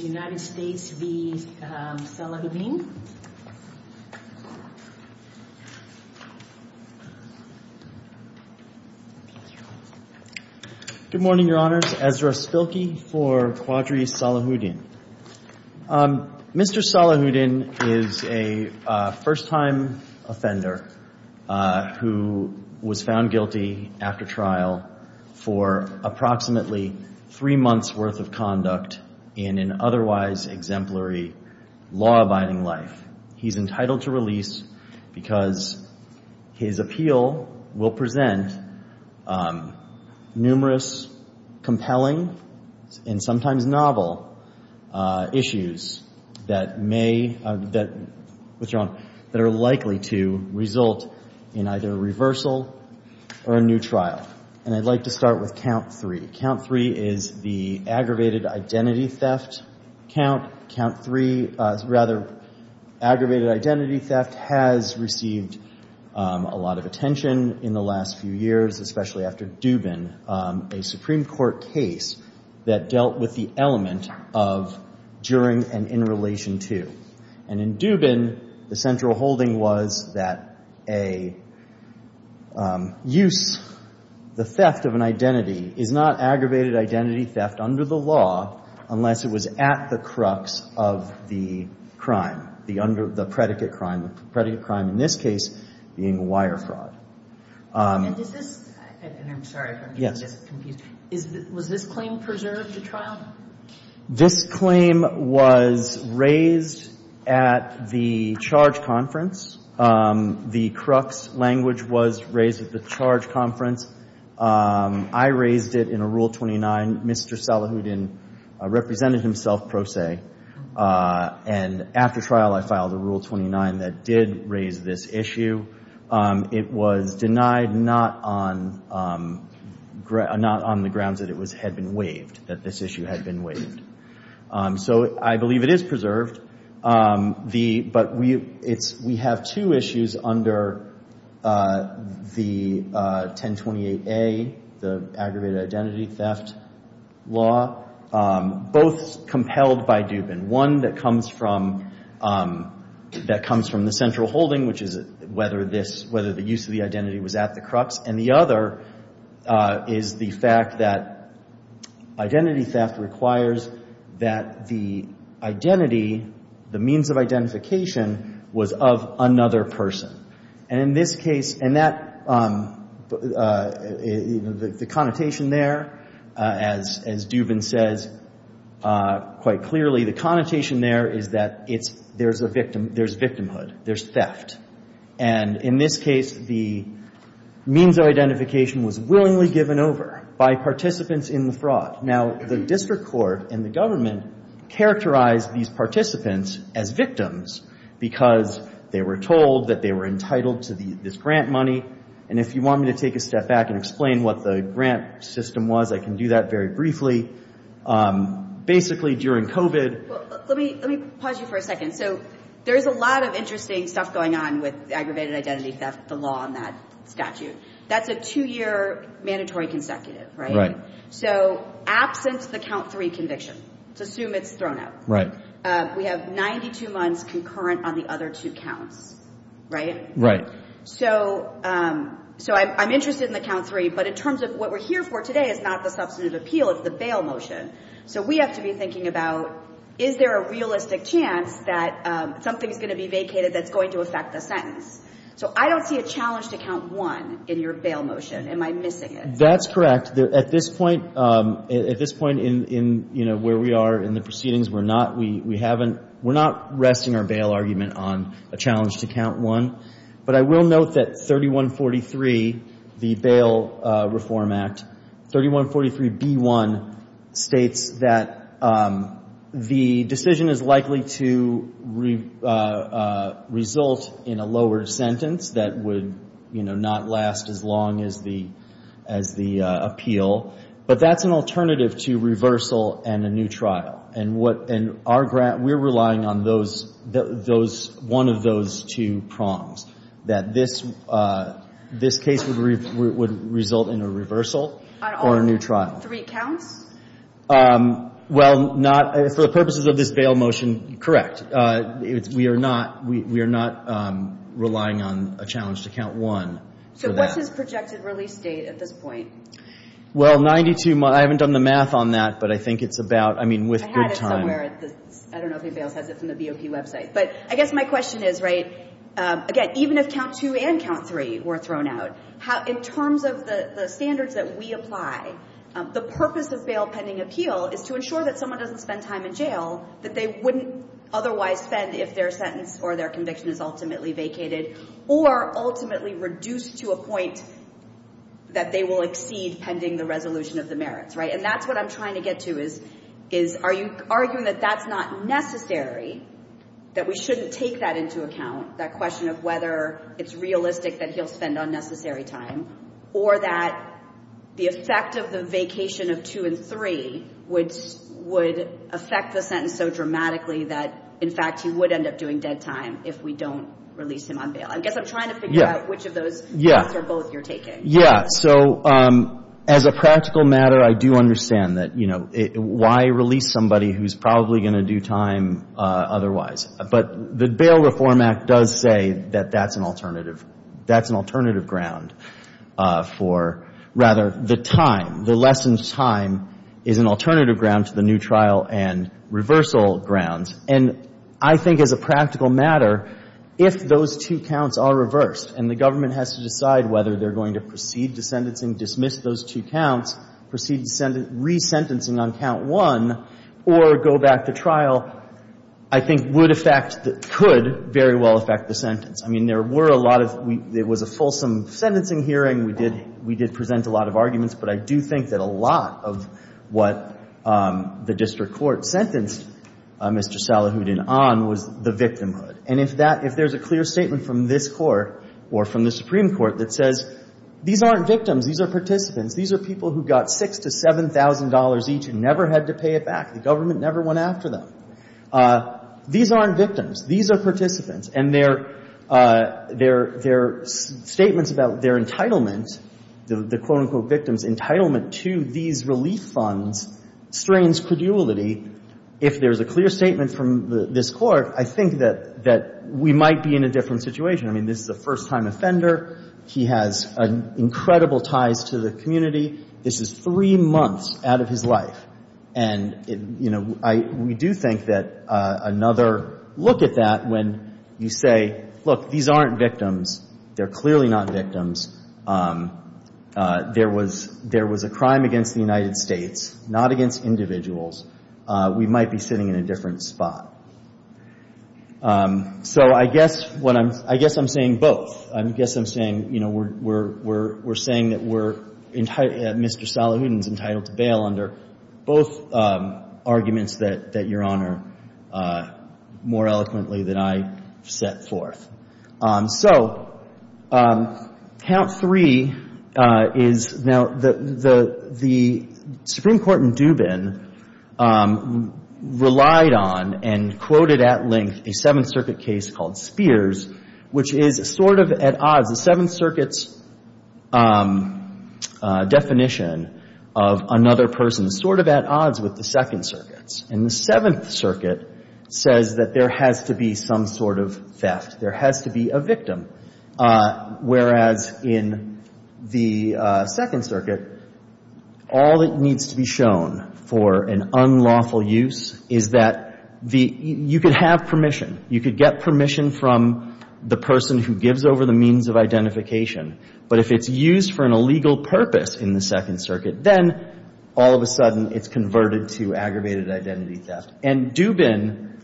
Good morning, Your Honors. Ezra Spilkey for Quadri Salahuddin. Mr. Salahuddin is a first-time offender who was found guilty after trial for approximately three months' worth of conduct in an otherwise exemplary law-abiding life. He's entitled to release because his appeal will present numerous compelling and sometimes novel issues that may, that are likely to result in either reversal or a new trial. And I'd like to start with count three. Count three is the aggravated identity theft count. Count three, rather, aggravated identity theft has received a lot of attention in the last few years, especially after Dubin, a Supreme Court case that dealt with the element of during and in relation to. And in Dubin, the central holding was that a use, the theft of an identity is not aggravated identity theft under the law unless it was at the crux of the crime, the under, the predicate crime, the predicate crime in this case being wire fraud. And is this, and I'm sorry if I'm getting this confused, was this claim preserved at trial? This claim was raised at the charge conference. The crux language was raised at the charge conference. I raised it in a Rule 29. Mr. Salahuddin represented himself pro se. And after trial, I filed a Rule 29 that did raise this issue. It was denied not on, not on the grounds that it was, had been waived, that this issue had been waived. So I believe it is preserved. The, but we, it's, we have two issues under the 1028A, the aggravated identity theft law, both compelled by Dubin. One that comes from, that comes from the central holding, which is whether this, whether the use of the identity was at the crux. And the other is the fact that identity theft requires that the identity, the means of identification, was of another person. And in this case, and that, the connotation there, as Dubin says quite clearly, the connotation there is that it's, there's a victim, there's victimhood, there's theft. And in this case, the means of identification was willingly given over by participants in the fraud. Now the district court and the government characterized these participants as victims because they were told that they were entitled to the, this grant money. And if you want me to take a step back and explain what the grant system was, I can do that very briefly. Basically during COVID. Well, let me, let me pause you for a second. So there's a lot of interesting stuff going on with aggravated identity theft, the law and that statute. That's a two-year mandatory consecutive, right? So absence of the count three conviction, let's assume it's thrown out. We have 92 months concurrent on the other two counts, right? Right. So, so I'm interested in the count three, but in terms of what we're here for today is not the substantive appeal, it's the bail motion. So we have to be thinking about, is there a realistic chance that something's going to be vacated that's going to affect the sentence? So I don't see a challenge to count one in your bail motion. Am I missing it? That's correct. At this point, at this point in, in, you know, where we are in the proceedings, we're not, we haven't, we're not resting our bail argument on a challenge to count one, but I will note that 3143, the Bail Reform Act, 3143B1 states that the decision is likely to result in a lower sentence that would, you know, not last as long as the, as the appeal, but that's an alternative to reversal and a new trial. And in our grant, we're relying on those, those, one of those two prongs, that this, this case would result in a reversal or a new trial. On all three counts? Well, not, for the purposes of this bail motion, correct. We are not, we are not relying on a challenge to count one. So what's his projected release date at this point? Well, 92, I haven't done the math on that, but I think it's about, I mean, with good time. I don't know if anybody else has it from the BOP website, but I guess my question is, right, again, even if count two and count three were thrown out, how, in terms of the standards that we apply, the purpose of bail pending appeal is to ensure that someone doesn't spend time in jail that they wouldn't otherwise spend if their sentence or their conviction is ultimately vacated or ultimately reduced to a point that they will exceed pending the resolution of the merits, right? And that's what I'm trying to get to is, is, are you arguing that that's not necessary, that we shouldn't take that into account, that question of whether it's realistic that he'll spend unnecessary time or that the effect of the vacation of two and three would, would affect the sentence so dramatically that, in fact, he would end up doing dead time if we don't release him on bail. I guess I'm trying to figure out which of those Yeah. Are both you're taking. Yeah. So as a practical matter, I do understand that, you know, why release somebody who's probably going to do time otherwise. But the Bail Reform Act does say that that's an alternative, that's an alternative ground for, rather, the time, the lessened time is an alternative ground to the new trial and reversal grounds. And I think as a practical matter, if those two are reversed and the government has to decide whether they're going to proceed to sentencing, dismiss those two counts, proceed to re-sentencing on count one or go back to trial, I think would affect, could very well affect the sentence. I mean, there were a lot of, it was a fulsome sentencing hearing. We did, we did present a lot of arguments. But I do think that a lot of what the district court sentenced Mr. Salihuddin on was the victimhood. And if that, if there's a clear statement from this court or from the Supreme Court that says these aren't victims, these are participants, these are people who got six to $7,000 each and never had to pay it back. The government never went after them. These aren't victims. These are participants. And their, their, their statements about their entitlement, the quote-unquote victims' entitlement to these relief funds strains credulity. If there's a clear statement from this court, I think that, that we might be in a different situation. I mean, this is a first-time offender. He has incredible ties to the community. This is three months out of his life. And, you know, I, we do think that another look at that when you say, look, these aren't victims, they're clearly not victims. There was, there was a crime against the United States, not against individuals. We might be sitting in a different spot. So I guess what I'm, I guess I'm saying both. I guess I'm saying, you know, we're, we're, we're, we're saying that we're entitled, Mr. Salihuddin is entitled to bail under both arguments that, that Your Honor more eloquently than I set forth. So count three is now the, the, the Supreme Court in Dubin relied on and quoted at length a Seventh Circuit case called Spears, which is sort of at odds, the Seventh Circuit's definition of another person is sort of at odds with the Second Circuit, says that there has to be some sort of theft. There has to be a victim. Whereas in the Second Circuit, all that needs to be shown for an unlawful use is that the, you could have permission, you could get permission from the person who gives over the means of identification. But if it's used for an illegal purpose in the Second Circuit, then all of a sudden it's converted to aggravated identity theft. And Dubin,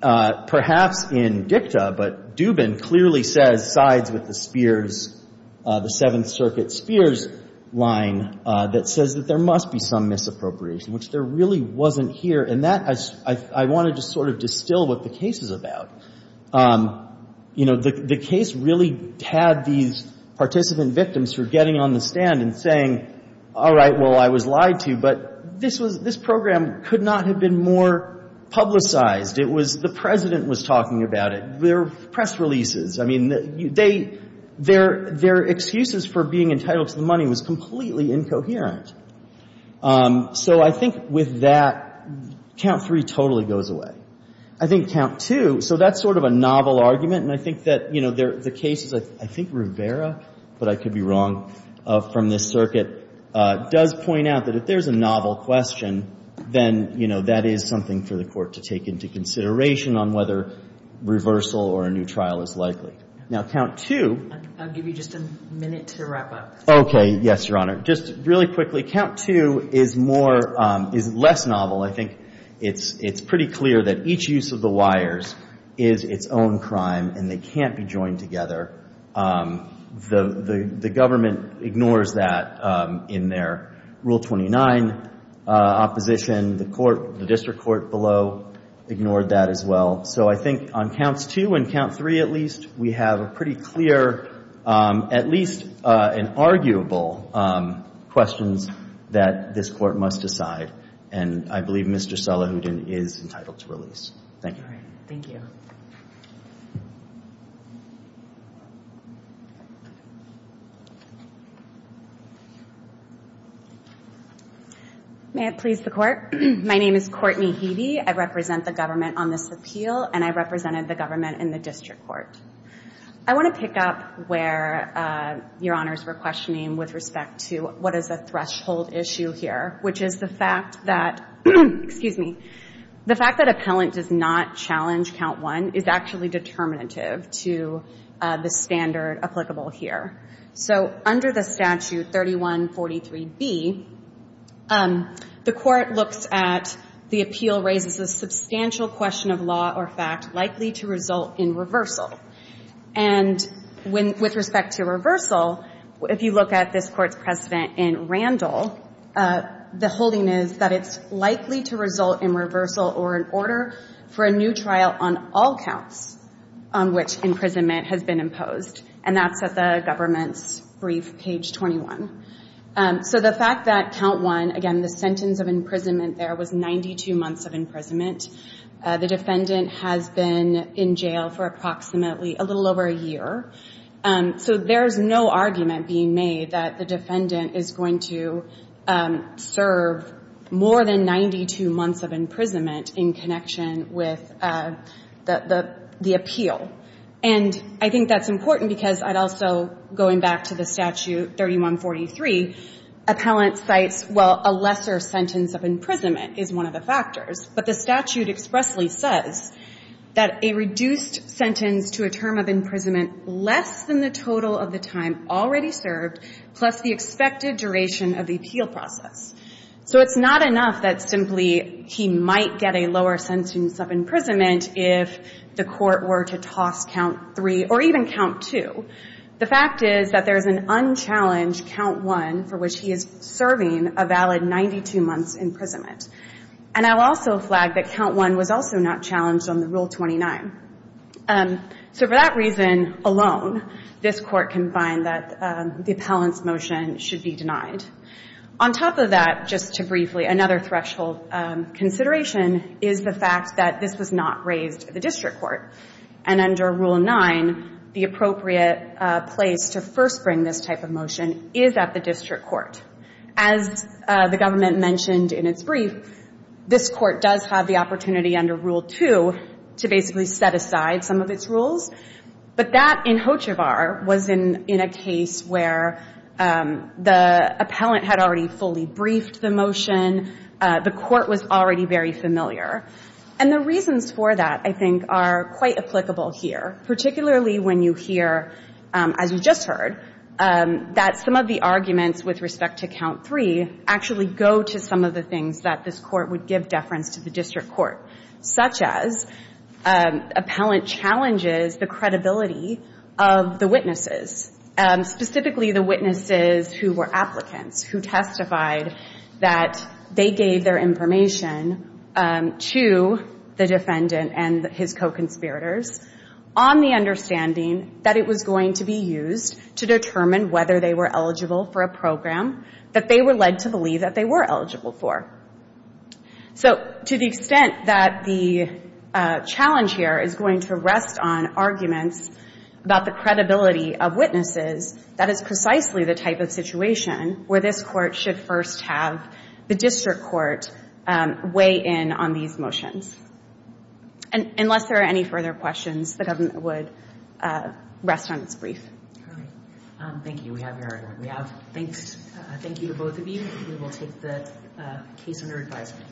perhaps in dicta, but Dubin clearly says sides with the Spears, the Seventh Circuit Spears line that says that there must be some misappropriation, which there really wasn't here. And that, I, I want to just sort of distill what the case is about. You know, the, the case really had these participant victims who were getting on the stand and saying, all right, well, I was lied to, but this was, this program could not have been more publicized. It was, the president was talking about it. There were press releases. I mean, they, their, their excuses for being entitled to the money was completely incoherent. So I think with that, count three totally goes away. I think count two, so that's sort of a novel argument. And I think that, you know, the case is, I think Rivera, but I could be wrong, from this circuit, does point out that if there's a novel question, then, you know, that is something for the Court to take into consideration on whether reversal or a new trial is likely. Now, count two. I'll give you just a minute to wrap up. Okay. Yes, Your Honor. Just really quickly, count two is more, is less novel. I think it's, it's pretty clear that each use of the wires is its own crime and they can't be joined together The, the, the government ignores that in their rule 29 opposition. The court, the district court below ignored that as well. So I think on counts two and count three, at least, we have a pretty clear, at least an arguable questions that this court must decide. And I believe Mr. is entitled to release. Thank you. All right. Thank you. May it please the Court. My name is Courtney Heavey. I represent the government on this appeal and I represented the government in the district court. I want to pick up where Your Honor's were questioning with respect to what is a threshold issue here, which is the fact that, excuse me, the fact that appellant does not challenge count one is actually determinative to the standard applicable here. So under the statute 3143B, the court looks at the appeal raises a substantial question of law or fact likely to result in reversal. And when, with respect to reversal, if you look at this court's precedent in Randall, the holding is that it's likely to result in reversal or an order for a new trial on all counts on which imprisonment has been imposed. And that's at the government's brief, page 21. So the fact that count one, again, the sentence of imprisonment there was 92 months of imprisonment. The defendant has been in jail for approximately a little over a year. So there's no argument being made that the defendant is going to serve more than 92 months of imprisonment in connection with the appeal. And I think that's important because I'd also, going back to the statute 3143, appellant cites, well, a lesser sentence of imprisonment is one of the factors. But the statute expressly says that a reduced sentence to a term of imprisonment less than the total of the time already served, plus the expected duration of the appeal process. So it's not enough that simply he might get a lower sentence of imprisonment if the court were to toss count three or even count two. The fact is that there's an unchallenged count one for which he is serving a valid 92 months imprisonment. And I'll also flag that count one was also not challenged on the Rule 29. And so for that reason alone, this court can find that the appellant's motion should be denied. On top of that, just to briefly, another threshold consideration is the fact that this was not raised at the district court. And under Rule 9, the appropriate place to first bring this type of motion is at the district court. As the government mentioned in its brief, this court does have the authority to set aside some of its rules. But that in Hochevar was in a case where the appellant had already fully briefed the motion. The court was already very familiar. And the reasons for that, I think, are quite applicable here, particularly when you hear, as you just heard, that some of the arguments with respect to count three actually go to some of the things that this court would give deference to the district court, such as appellant challenges the credibility of the witnesses, specifically the witnesses who were applicants, who testified that they gave their information to the defendant and his co-conspirators on the understanding that it was going to be used to determine whether they were eligible for a program that they were led to believe that they were eligible for. So to the extent that the challenge here is going to rest on arguments about the credibility of witnesses, that is precisely the type of situation where this court should first have the district court weigh in on these motions. And unless there are any further questions, the government would rest on its brief. All right. Thank you. We have your argument. Thank you to both of you. We will take the case under advisement.